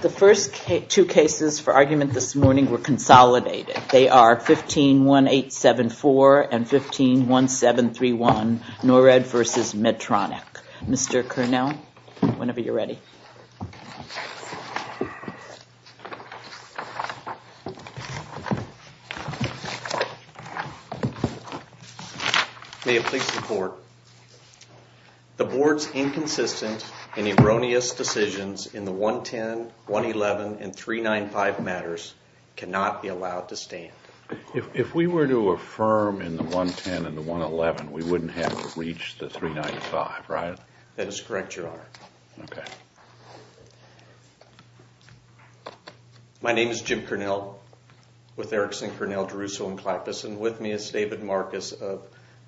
The first two cases for argument this morning were consolidated. They are 151874 and 151731 Norred v. Medtronic. Mr. Curnell, whenever you're ready. May it please the court. The board's inconsistent and erroneous decisions in the 110, 111, and 395 matters cannot be allowed to stand. If we were to affirm in the 110 and the 111, we wouldn't have to reach the 395, right? That is correct, Your Honor. My name is Jim Curnell with Erickson, Curnell, DeRusso, and Klappes. And with me is David Marcus of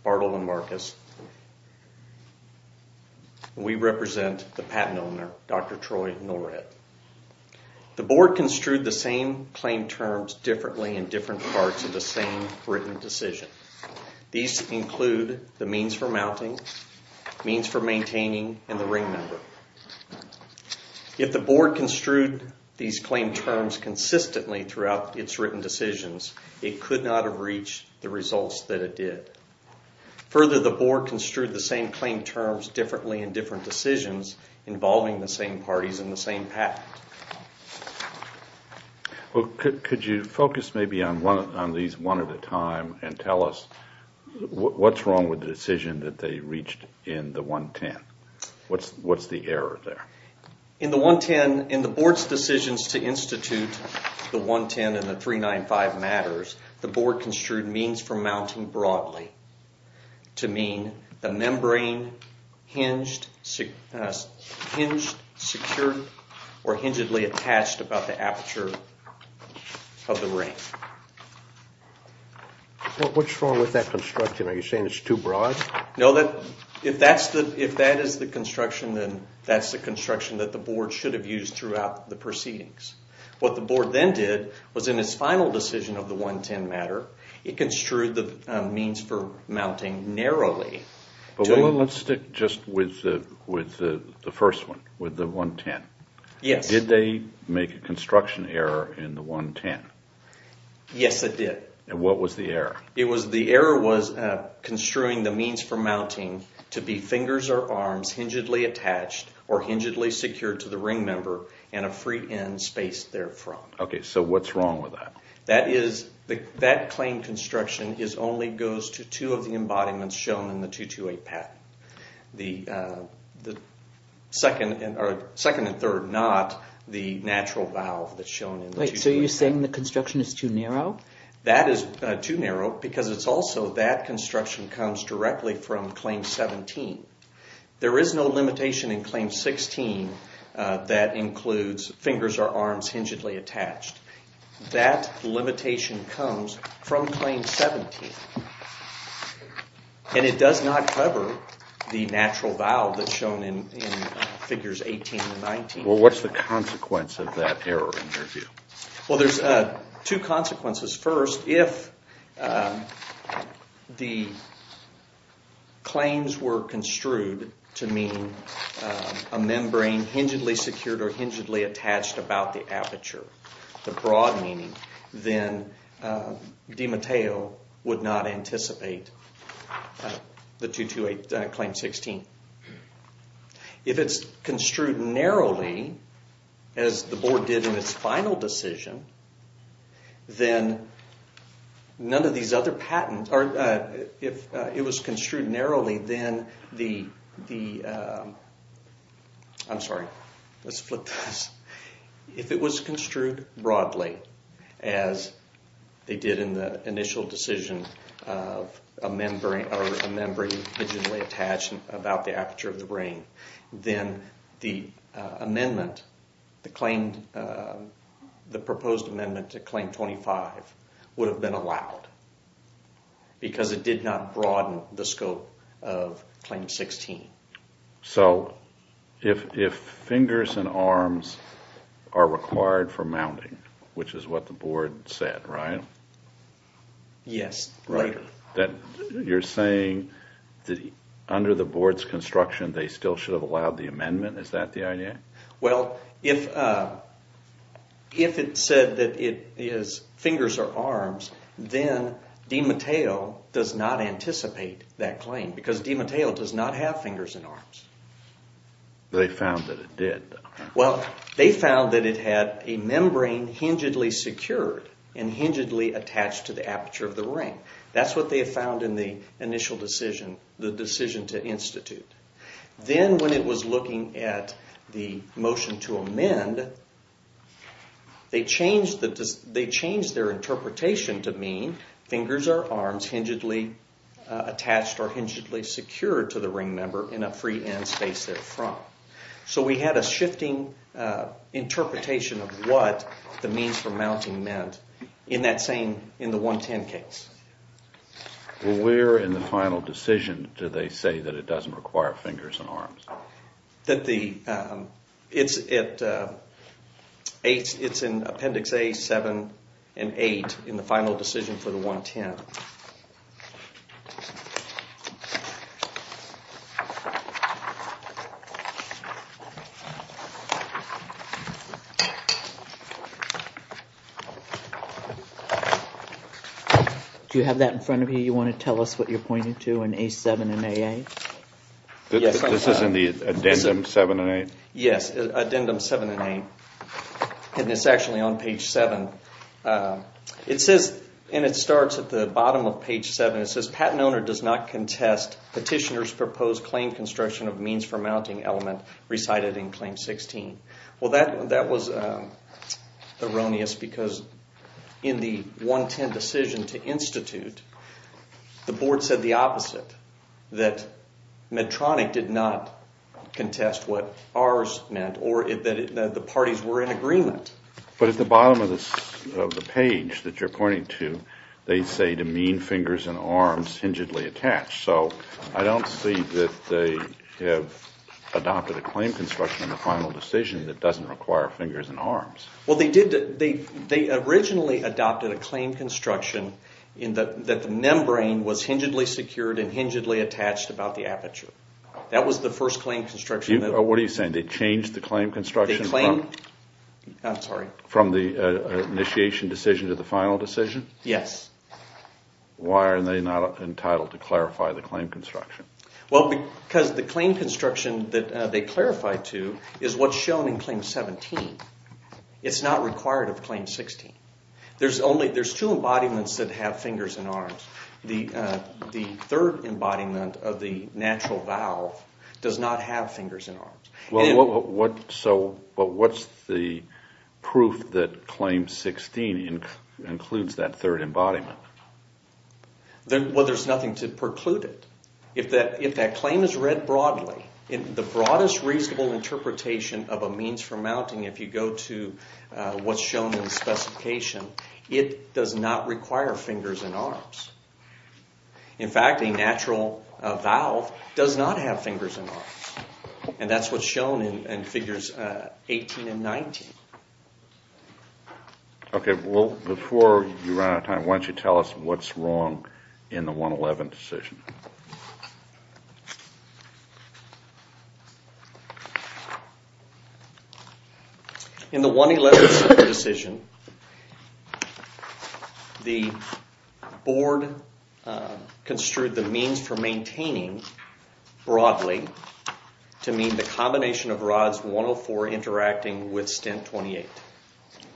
Bartleman Marcus. We represent the patent owner, Dr. Troy Norred. The board construed the same claim terms differently in different parts of the same written decision. These include the means for mounting, means for maintaining, and the ring number. If the board construed these claim terms consistently throughout its written decisions, it could not have reached the results that it did. Further, the board construed the same claim terms differently in different decisions involving the same parties in the same patent. Could you focus maybe on these one at a time and tell us what's wrong with the decision that they reached in the 110? What's the error there? In the board's decisions to institute the 110 and the 395 matters, the board construed means for mounting broadly to mean the membrane hinged, secured, or hingedly attached about the aperture of the ring. What's wrong with that construction? Are you saying it's too broad? No, if that is the construction, then that's the construction that the board should have used throughout the proceedings. What the board then did was in its final decision of the 110 matter, it construed the means for mounting narrowly. Let's stick just with the first one, with the 110. Yes. Did they make a construction error in the 110? Yes, they did. And what was the error? The error was construing the means for mounting to be fingers or arms hingedly attached or hingedly secured to the ring member and a free end spaced therefrom. Okay, so what's wrong with that? That claim construction only goes to two of the embodiments shown in the 228 patent. The second and third, not the natural valve that's shown in the 228 patent. No. That is too narrow because it's also that construction comes directly from Claim 17. There is no limitation in Claim 16 that includes fingers or arms hingedly attached. That limitation comes from Claim 17. And it does not cover the natural valve that's shown in Figures 18 and 19. Well, what's the consequence of that error in your view? Well, there's two consequences. First, if the claims were construed to mean a membrane hingedly secured or hingedly attached about the aperture, the broad meaning, then Di Matteo would not anticipate the 228 Claim 16. If it's construed narrowly, as the board did in its final decision, then none of these other patents... If it was construed narrowly, then the... I'm sorry. Let's flip this. If it was construed broadly, as they did in the initial decision of a membrane hingedly attached about the aperture of the brain, then the amendment, the proposed amendment to Claim 25 would have been allowed because it did not broaden the scope of Claim 16. So, if fingers and arms are required for mounting, which is what the board said, right? Yes. Right. You're saying that under the board's construction, they still should have allowed the amendment? Is that the idea? Well, if it said that it is fingers or arms, then Di Matteo does not anticipate that claim because Di Matteo does not have fingers and arms. They found that it did, though. Well, they found that it had a membrane hingedly secured and hingedly attached to the aperture of the brain. That's what they found in the initial decision, the decision to institute. Then, when it was looking at the motion to amend, they changed their interpretation to mean fingers or arms hingedly attached or hingedly secured to the ring member in a free-end space therefrom. So, we had a shifting interpretation of what the means for mounting meant in that same, in the 110 case. Well, where in the final decision do they say that it doesn't require fingers and arms? It's in Appendix A, 7, and 8 in the final decision for the 110. Do you have that in front of you? Do you want to tell us what you're pointing to in A7 and A8? This is in the Addendum 7 and 8? Yes, Addendum 7 and 8, and it's actually on page 7. It says, and it starts at the bottom of page 7, it says, Patent owner does not contest petitioner's proposed claim construction of means for mounting element recited in Claim 16. Well, that was erroneous because in the 110 decision to institute, the board said the opposite, that Medtronic did not contest what ours meant or that the parties were in agreement. But at the bottom of the page that you're pointing to, they say to mean fingers and arms hingedly attached. So, I don't see that they have adopted a claim construction in the final decision that doesn't require fingers and arms. Well, they did. They originally adopted a claim construction in that the membrane was hingedly secured and hingedly attached about the aperture. That was the first claim construction. What are you saying? They changed the claim construction from the initiation decision to the final decision? Yes. Why are they not entitled to clarify the claim construction? Well, because the claim construction that they clarified to is what's shown in Claim 17. It's not required of Claim 16. There's two embodiments that have fingers and arms. The third embodiment of the natural valve does not have fingers and arms. Well, what's the proof that Claim 16 includes that third embodiment? Well, there's nothing to preclude it. If that claim is read broadly, the broadest reasonable interpretation of a means for mounting, if you go to what's shown in the specification, it does not require fingers and arms. In fact, a natural valve does not have fingers and arms. And that's what's shown in Figures 18 and 19. Okay. Well, before you run out of time, why don't you tell us what's wrong in the 111 decision? In the 111 decision, the board construed the means for maintaining broadly to mean the combination of rods 104 interacting with stent 28.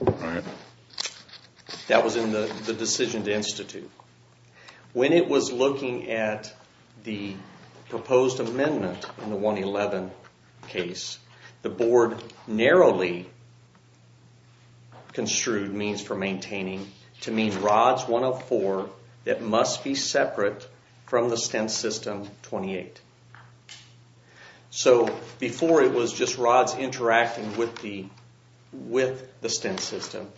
All right. That was in the decision to institute. When it was looking at the proposed amendment in the 111 case, the board narrowly construed means for maintaining to mean rods 104 that must be separate from the stent system 28. So before it was just rods interacting with the stent system.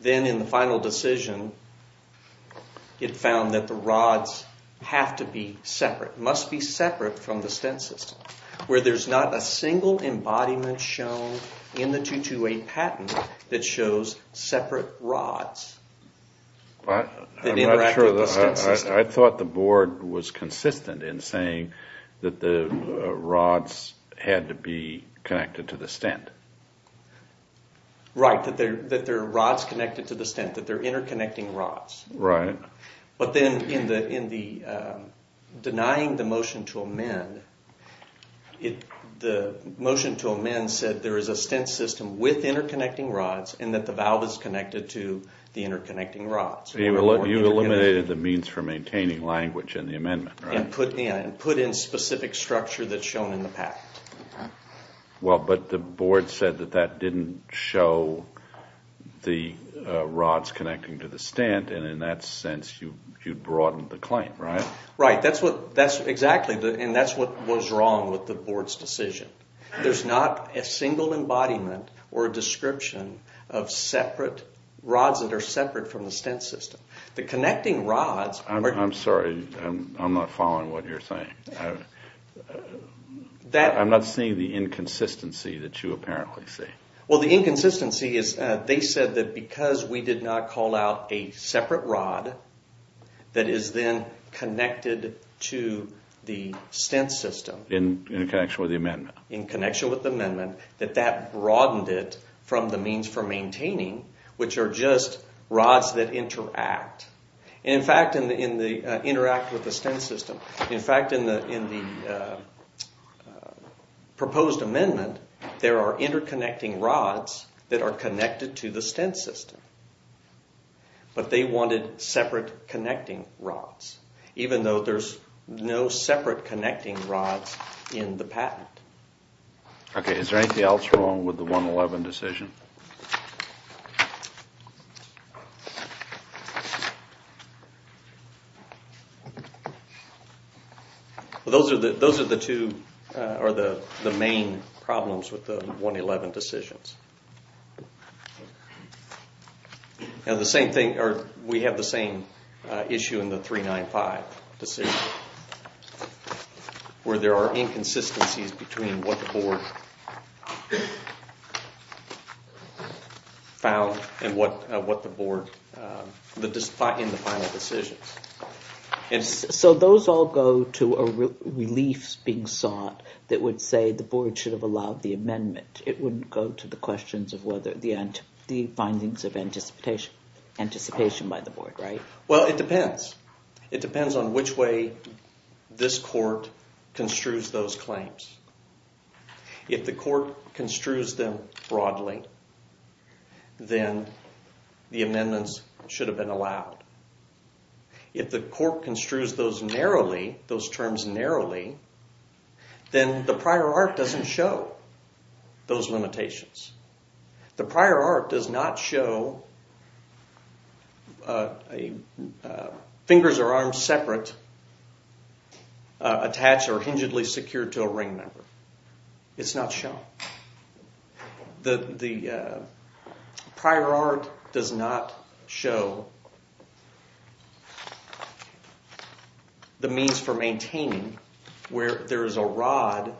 Then in the final decision, it found that the rods have to be separate, must be separate from the stent system, where there's not a single embodiment shown in the 228 patent that shows separate rods that interact with the stent system. I thought the board was consistent in saying that the rods had to be connected to the stent. Right, that there are rods connected to the stent, that they're interconnecting rods. Right. But then in denying the motion to amend, the motion to amend said there is a stent system with interconnecting rods and that the valve is connected to the interconnecting rods. You eliminated the means for maintaining language in the amendment, right? And put in specific structure that's shown in the patent. Okay. Well, but the board said that that didn't show the rods connecting to the stent, and in that sense, you broadened the claim, right? Right. Exactly, and that's what was wrong with the board's decision. There's not a single embodiment or a description of separate rods that are separate from the stent system. The connecting rods are... I'm sorry, I'm not following what you're saying. I'm not seeing the inconsistency that you apparently see. Well, the inconsistency is they said that because we did not call out a separate rod that is then connected to the stent system. In connection with the amendment. In connection with the amendment, that that broadened it from the means for maintaining, which are just rods that interact. In fact, interact with the stent system. In fact, in the proposed amendment, there are interconnecting rods that are connected to the stent system. But they wanted separate connecting rods, even though there's no separate connecting rods in the patent. Okay. Is there anything else wrong with the 111 decision? Those are the two main problems with the 111 decisions. We have the same issue in the 395 decision, where there are inconsistencies between what the board found and what the board, in the final decisions. So those all go to reliefs being sought that would say the board should have allowed the amendment. It wouldn't go to the questions of whether the findings of anticipation by the board, right? Well, it depends. It depends on which way this court construes those claims. If the court construes them broadly, then the amendments should have been allowed. If the court construes those narrowly, those terms narrowly, then the prior art doesn't show those limitations. The prior art does not show fingers or arms separate, attached or hingedly secured to a ring member. It's not shown. The prior art does not show the means for maintaining where there is a rod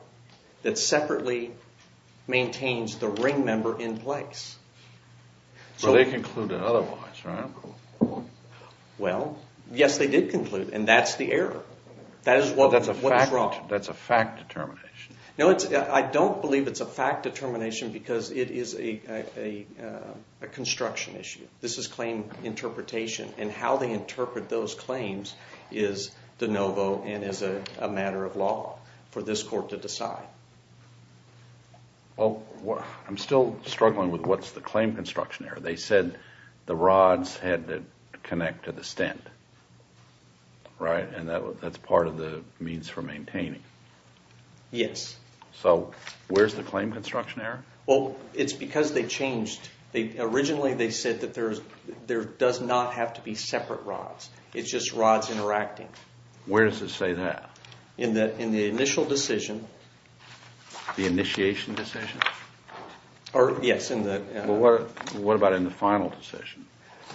that separately maintains the ring member in place. So they concluded otherwise, right? Well, yes, they did conclude, and that's the error. That's a fact determination. No, I don't believe it's a fact determination because it is a construction issue. is de novo and is a matter of law for this court to decide. Well, I'm still struggling with what's the claim construction error. They said the rods had to connect to the stent, right? And that's part of the means for maintaining. Yes. So where's the claim construction error? Well, it's because they changed. Originally, they said that there does not have to be separate rods. It's just rods interacting. Where does it say that? In the initial decision. The initiation decision? Yes. What about in the final decision?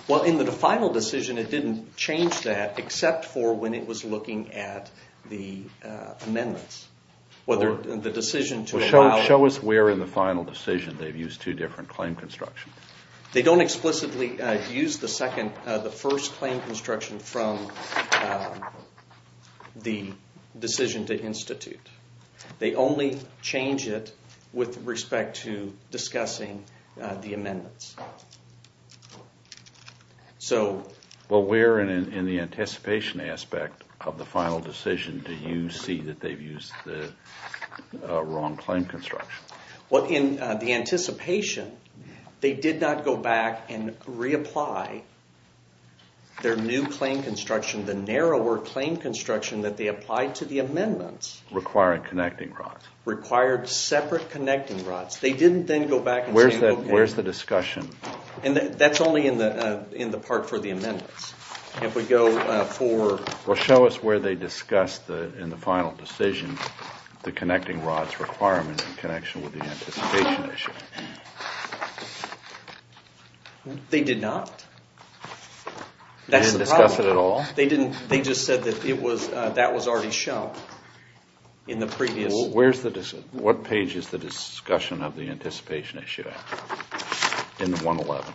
Well, in the final decision, it didn't change that except for when it was looking at the amendments. Show us where in the final decision they've used two different claim constructions. They don't explicitly use the first claim construction from the decision to institute. They only change it with respect to discussing the amendments. Well, where in the anticipation aspect of the final decision do you see that they've used the wrong claim construction? Well, in the anticipation, they did not go back and reapply their new claim construction, the narrower claim construction that they applied to the amendments. Requiring connecting rods. Required separate connecting rods. They didn't then go back and say, okay. Where's the discussion? That's only in the part for the amendments. If we go forward. Well, show us where they discussed in the final decision the connecting rods requirement in connection with the anticipation issue. They did not. That's the problem. They didn't discuss it at all? They didn't. They just said that it was, that was already shown in the previous. Where's the, what page is the discussion of the anticipation issue? In the 111.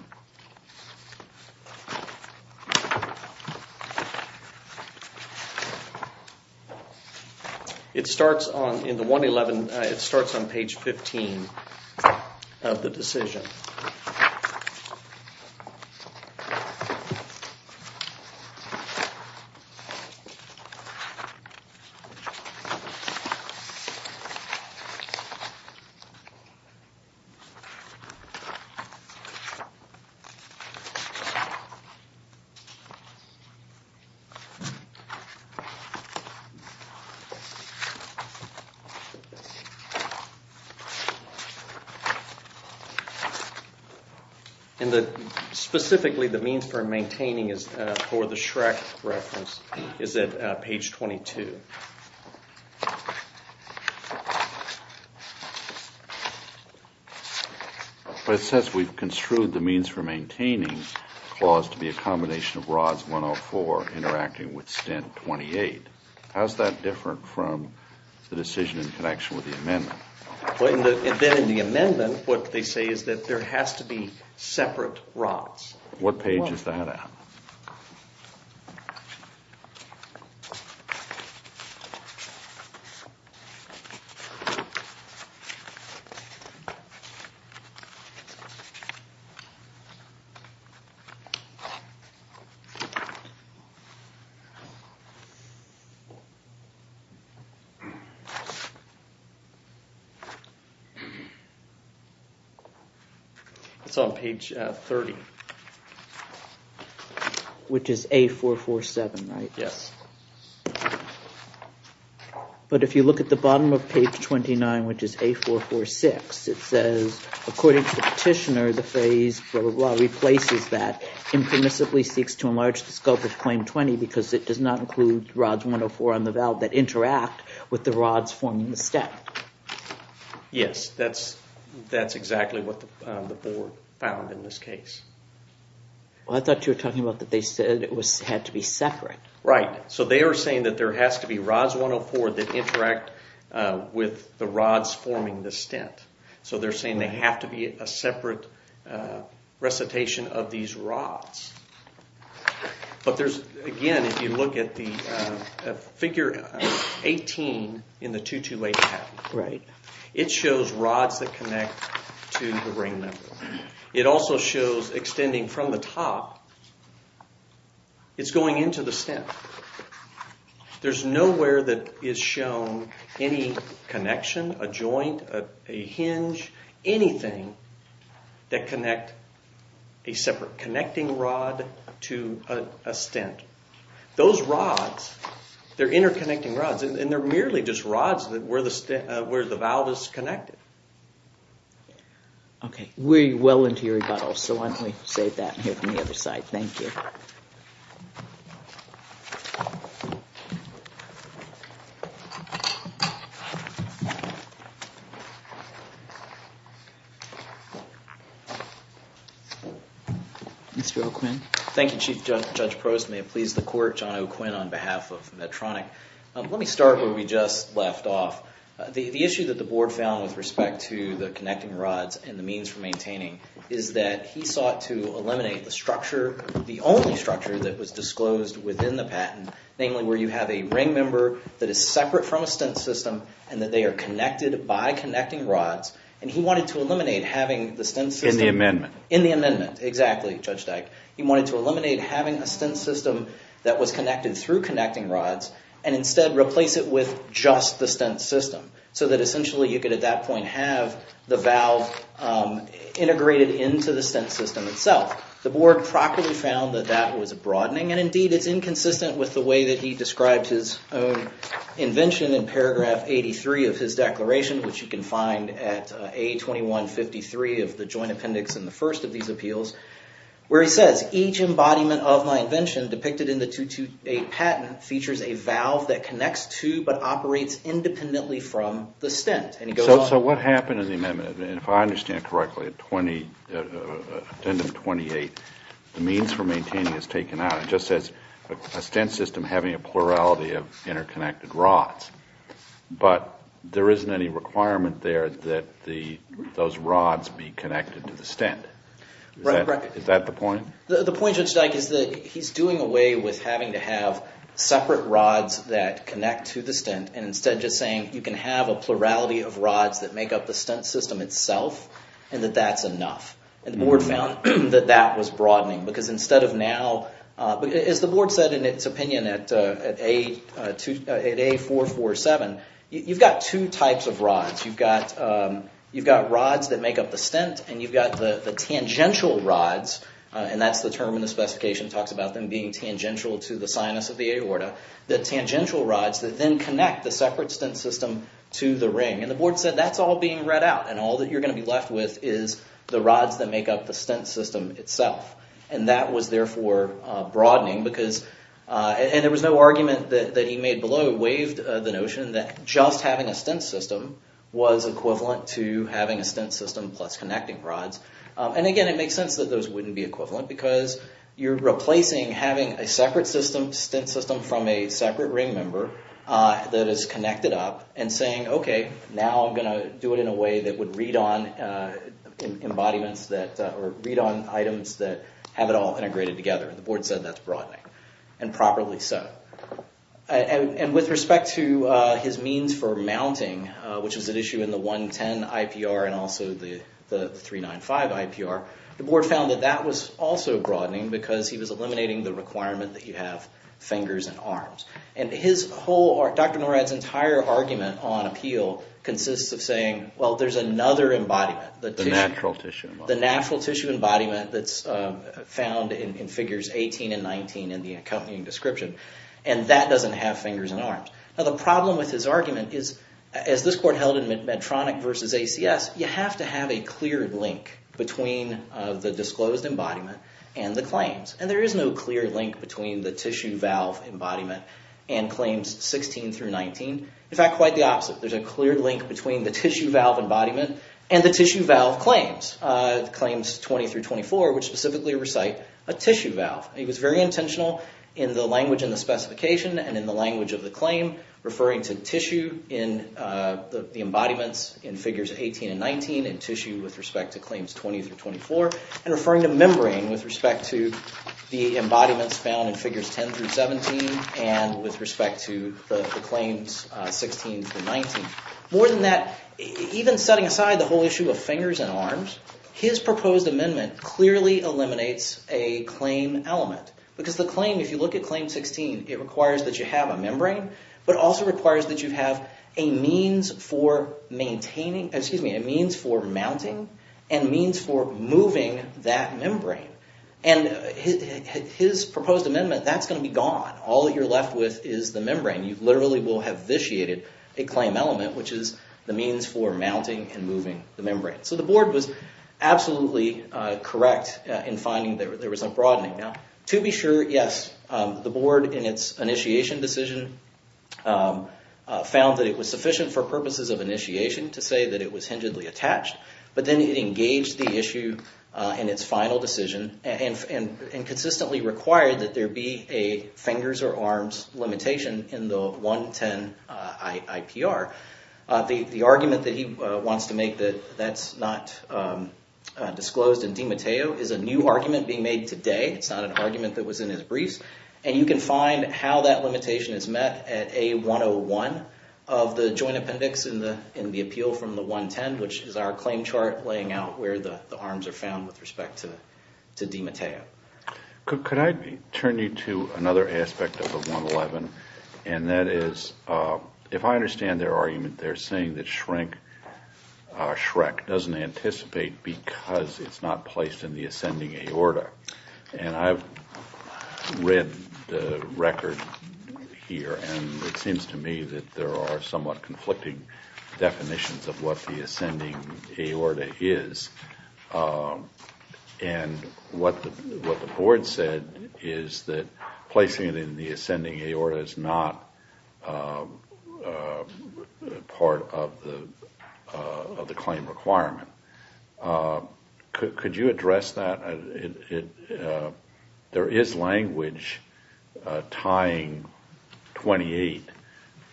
It starts on, in the 111, it starts on page 15 of the decision. And the, specifically the means for maintaining is, for the Shrek reference, is at page 22. But it says we've construed the means for maintaining. Clause to be a combination of rods 104 interacting with stent 28. How's that different from the decision in connection with the amendment? Then in the amendment, what they say is that there has to be separate rods. What page is that at? It's on page 30. Which is A447, right? Yes. But if you look at the bottom of page 29, which is A446, it says, according to Petitioner, infamously seeks to enlarge the scope of claim 20 because it does not include rods 104 on the valve that interact with the rods forming the stent. Yes, that's exactly what the board found in this case. I thought you were talking about that they said it had to be separate. Right. So they are saying that there has to be rods 104 that interact with the rods forming the stent. So they're saying they have to be a separate recitation of these rods. But there's, again, if you look at the figure 18 in the 228 pattern, it shows rods that connect to the ring member. It also shows extending from the top, it's going into the stent. There's nowhere that is shown any connection, a joint, a hinge, anything that connect a separate connecting rod to a stent. Those rods, they're interconnecting rods, and they're merely just rods where the valve is connected. Okay, we're well into your rebuttal, so why don't we save that and hear from the other side. Thank you. Thank you. Mr. O'Quinn. Thank you, Chief Judge Prost. May it please the court, John O'Quinn on behalf of Medtronic. Let me start where we just left off. The issue that the board found with respect to the connecting rods and the means for maintaining is that he sought to eliminate the structure, the only structure that was disclosed within the patent, namely where you have a ring member that is separate from a stent system and that they are connected by connecting rods, and he wanted to eliminate having the stent system- In the amendment. In the amendment, exactly, Judge Dyke. He wanted to eliminate having a stent system that was connected through connecting rods and instead replace it with just the stent system, so that essentially you could at that point have the valve integrated into the stent system itself. The board properly found that that was a broadening, and indeed it's inconsistent with the way that he described his own invention in paragraph 83 of his declaration, which you can find at A2153 of the joint appendix in the first of these appeals, where he says, Each embodiment of my invention depicted in the 228 patent features a valve that connects to but operates independently from the stent. And he goes on. So what happened in the amendment, and if I understand it correctly, at the end of 28, the means for maintaining is taken out. It just says a stent system having a plurality of interconnected rods, but there isn't any requirement there that those rods be connected to the stent. Is that the point? The point, Judge Dyke, is that he's doing away with having to have separate rods that connect to the stent and instead just saying you can have a plurality of rods that make up the stent system itself and that that's enough. And the board found that that was broadening because instead of now, as the board said in its opinion at A447, you've got two types of rods. You've got rods that make up the stent, and you've got the tangential rods, and that's the term in the specification that talks about them being tangential to the sinus of the aorta, the tangential rods that then connect the separate stent system to the ring. And the board said that's all being read out and all that you're going to be left with is the rods that make up the stent system itself. And that was therefore broadening because, and there was no argument that he made below, waived the notion that just having a stent system was equivalent to having a stent system plus connecting rods. And again, it makes sense that those wouldn't be equivalent because you're replacing having a separate stent system from a separate ring member that is connected up and saying, okay, now I'm going to do it in a way that would read on items that have it all integrated together. The board said that's broadening, and properly so. And with respect to his means for mounting, which was an issue in the 110 IPR and also the 395 IPR, the board found that that was also broadening because he was eliminating the requirement that you have fingers and arms. And his whole, Dr. Norad's entire argument on appeal consists of saying, well, there's another embodiment. The natural tissue. The natural tissue embodiment that's found in figures 18 and 19 in the accompanying description. And that doesn't have fingers and arms. Now, the problem with his argument is, as this court held in Medtronic versus ACS, you have to have a clear link between the disclosed embodiment and the claims. And there is no clear link between the tissue valve embodiment and claims 16 through 19. In fact, quite the opposite. There's a clear link between the tissue valve embodiment and the tissue valve claims, claims 20 through 24, which specifically recite a tissue valve. He was very intentional in the language and the specification and in the language of the claim, referring to tissue in the embodiments in figures 18 and 19 and tissue with respect to claims 20 through 24, and referring to membrane with respect to the embodiments found in figures 10 through 17 and with respect to the claims 16 through 19. More than that, even setting aside the whole issue of fingers and arms, his proposed amendment clearly eliminates a claim element. Because the claim, if you look at claim 16, it requires that you have a membrane, but also requires that you have a means for mounting and means for moving that membrane. And his proposed amendment, that's going to be gone. All that you're left with is the membrane. You literally will have vitiated a claim element, which is the means for mounting and moving the membrane. So the board was absolutely correct in finding there was a broadening. Now, to be sure, yes, the board in its initiation decision found that it was sufficient for purposes of initiation to say that it was hingedly attached. But then it engaged the issue in its final decision and consistently required that there be a fingers or arms limitation in the 110 IPR. The argument that he wants to make that that's not disclosed in DiMatteo is a new argument being made today. It's not an argument that was in his briefs. And you can find how that limitation is met at A101 of the joint appendix in the appeal from the 110, which is our claim chart laying out where the arms are found with respect to DiMatteo. Could I turn you to another aspect of the 111? And that is, if I understand their argument, they're saying that SHREC doesn't anticipate because it's not placed in the ascending aorta. And I've read the record here, and it seems to me that there are somewhat conflicting definitions of what the ascending aorta is. And what the board said is that placing it in the ascending aorta is not part of the claim requirement. Could you address that? There is language tying 28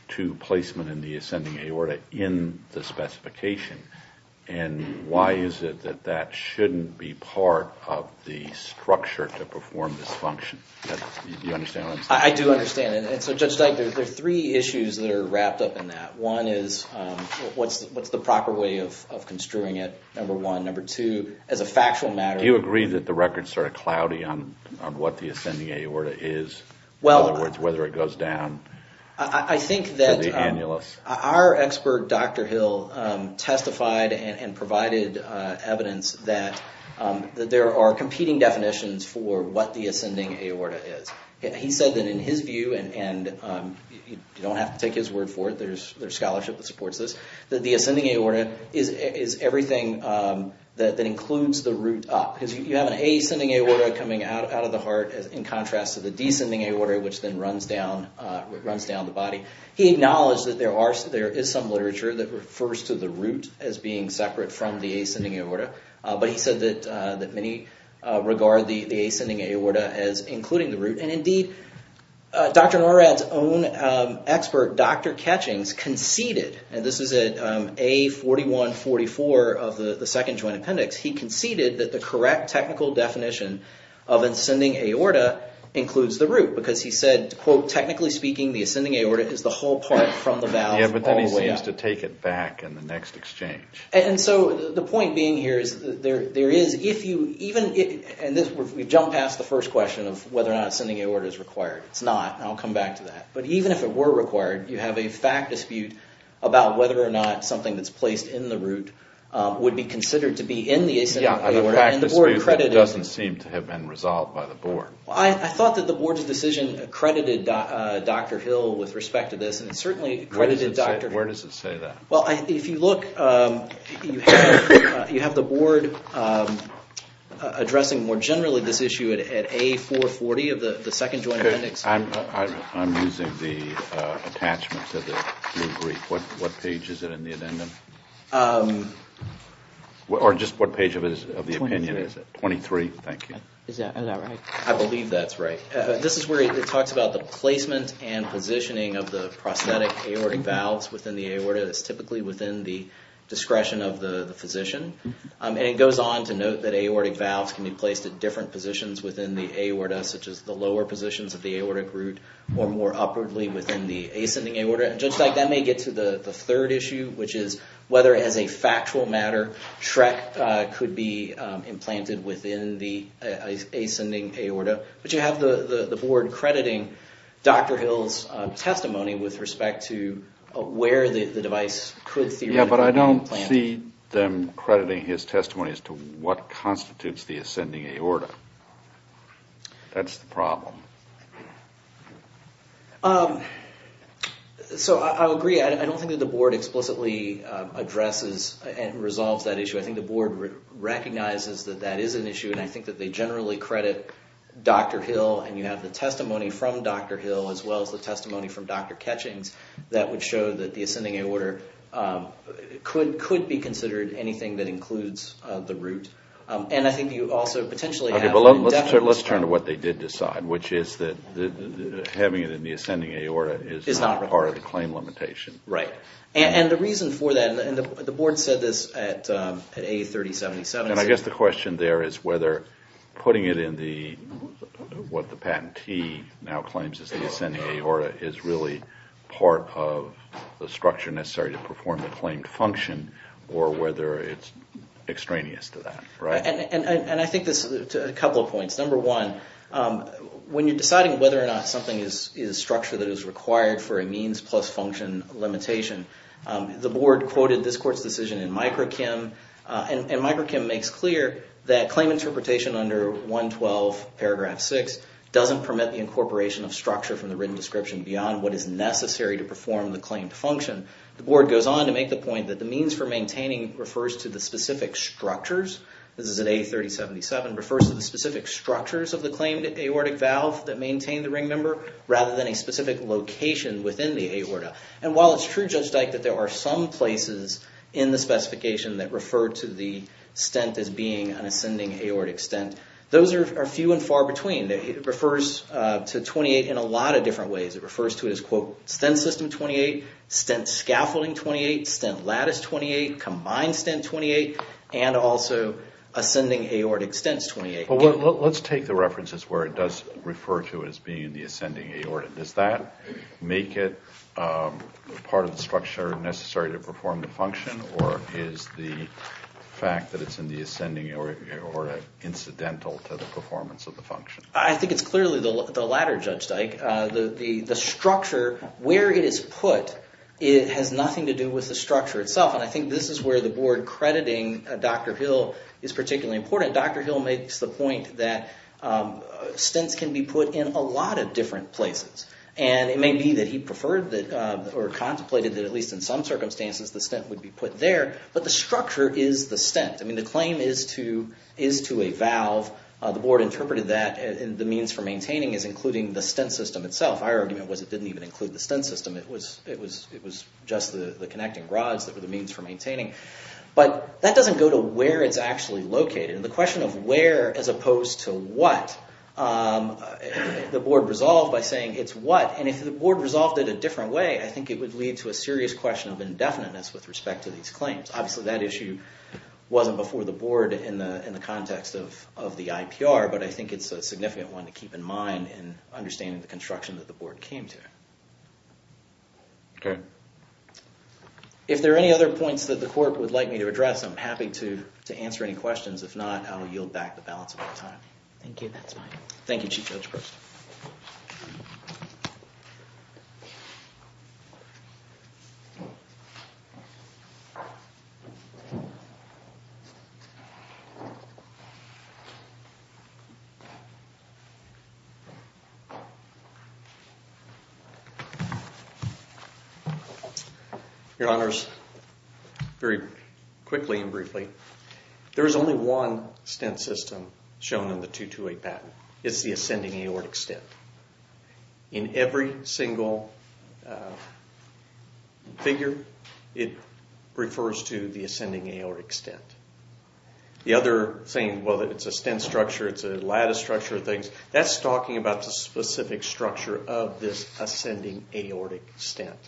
to placement in the ascending aorta in the specification. And why is it that that shouldn't be part of the structure to perform this function? Do you understand what I'm saying? I do understand. And so, Judge Dyke, there are three issues that are wrapped up in that. One is what's the proper way of construing it, number one. Number two, as a factual matter— Do you agree that the record's sort of cloudy on what the ascending aorta is? In other words, whether it goes down to the annulus? Our expert, Dr. Hill, testified and provided evidence that there are competing definitions for what the ascending aorta is. He said that in his view, and you don't have to take his word for it, there's scholarship that supports this, that the ascending aorta is everything that includes the root up. Because you have an ascending aorta coming out of the heart in contrast to the descending aorta, which then runs down the body. He acknowledged that there is some literature that refers to the root as being separate from the ascending aorta. But he said that many regard the ascending aorta as including the root. And indeed, Dr. Norad's own expert, Dr. Ketchings, conceded— and this is at A4144 of the Second Joint Appendix— he conceded that the correct technical definition of ascending aorta includes the root. Because he said, quote, technically speaking, the ascending aorta is the whole part from the valve all the way up. Yeah, but then he seems to take it back in the next exchange. And so the point being here is there is—if you even—and we've jumped past the first question of whether or not ascending aorta is required. It's not, and I'll come back to that. But even if it were required, you have a fact dispute about whether or not something that's placed in the root would be considered to be in the ascending aorta. Yeah, a fact dispute that doesn't seem to have been resolved by the board. Well, I thought that the board's decision accredited Dr. Hill with respect to this, and it certainly accredited Dr. Hill. Where does it say that? Well, if you look, you have the board addressing more generally this issue at A440 of the Second Joint Appendix. I'm using the attachments of the blue brief. What page is it in the addendum? Or just what page of the opinion is it? Twenty-three. Twenty-three, thank you. Is that right? I believe that's right. This is where it talks about the placement and positioning of the prosthetic aortic valves within the aorta. It's typically within the discretion of the physician. And it goes on to note that aortic valves can be placed at different positions within the aorta, such as the lower positions of the aortic root, or more upwardly within the ascending aorta. Judge Dyke, that may get to the third issue, which is whether, as a factual matter, Shrek could be implanted within the ascending aorta. But you have the board crediting Dr. Hill's testimony with respect to where the device could theoretically be implanted. Yeah, but I don't see them crediting his testimony as to what constitutes the ascending aorta. That's the problem. So I agree. I don't think that the board explicitly addresses and resolves that issue. I think the board recognizes that that is an issue, and I think that they generally credit Dr. Hill. And you have the testimony from Dr. Hill, as well as the testimony from Dr. Ketchings, that would show that the ascending aorta could be considered anything that includes the root. Let's turn to what they did decide, which is that having it in the ascending aorta is not part of the claim limitation. Right. And the reason for that, and the board said this at A3077. And I guess the question there is whether putting it in what the patentee now claims is the ascending aorta is really part of the structure necessary to perform the claimed function, or whether it's extraneous to that. And I think there's a couple of points. Number one, when you're deciding whether or not something is structure that is required for a means plus function limitation, the board quoted this court's decision in microchem. And microchem makes clear that claim interpretation under 112 paragraph 6 doesn't permit the incorporation of structure from the written description beyond what is necessary to perform the claimed function. The board goes on to make the point that the means for maintaining refers to the specific structures. This is at A3077, refers to the specific structures of the claimed aortic valve that maintain the ring member, rather than a specific location within the aorta. And while it's true, Judge Dyke, that there are some places in the specification that refer to the stent as being an ascending aortic stent, those are few and far between. It refers to 28 in a lot of different ways. It refers to it as, quote, stent system 28, stent scaffolding 28, stent lattice 28, combined stent 28, and also ascending aortic stents 28. Let's take the references where it does refer to it as being the ascending aorta. Does that make it part of the structure necessary to perform the function, or is the fact that it's in the ascending aorta incidental to the performance of the function? I think it's clearly the latter, Judge Dyke. The structure, where it is put, has nothing to do with the structure itself, and I think this is where the board crediting Dr. Hill is particularly important. Dr. Hill makes the point that stents can be put in a lot of different places, and it may be that he preferred or contemplated that at least in some circumstances the stent would be put there, but the structure is the stent. The claim is to a valve. The board interpreted that the means for maintaining is including the stent system itself. My argument was it didn't even include the stent system. It was just the connecting rods that were the means for maintaining. But that doesn't go to where it's actually located. The question of where as opposed to what, the board resolved by saying it's what, and if the board resolved it a different way, I think it would lead to a serious question of indefiniteness with respect to these claims. Obviously, that issue wasn't before the board in the context of the IPR, but I think it's a significant one to keep in mind in understanding the construction that the board came to. Okay. If there are any other points that the court would like me to address, I'm happy to answer any questions. If not, I will yield back the balance of my time. Thank you. That's fine. Thank you, Chief Judge Preston. Your Honors, very quickly and briefly, there is only one stent system shown in the 228 patent. It's the ascending aortic stent. In every single figure, it refers to the ascending aortic stent. The other thing, whether it's a stent structure, it's a lattice structure, that's talking about the specific structure of this ascending aortic stent.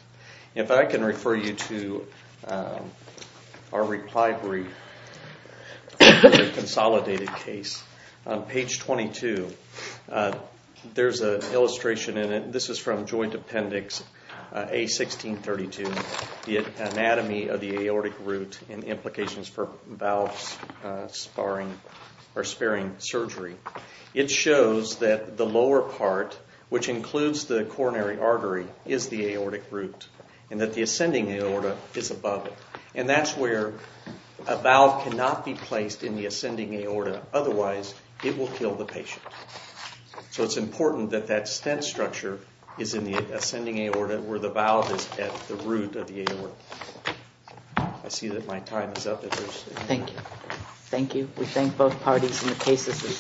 If I can refer you to our reply brief for the consolidated case, page 22, there's an illustration in it. This is from joint appendix A1632, the anatomy of the aortic root and the implications for valve sparing surgery. It shows that the lower part, which includes the coronary artery, is the aortic root and that the ascending aorta is above it. That's where a valve cannot be placed in the ascending aorta. Otherwise, it will kill the patient. So it's important that that stent structure is in the ascending aorta where the valve is at the root of the aorta. I see that my time is up. Thank you. Thank you. We thank both parties in the cases we've seen.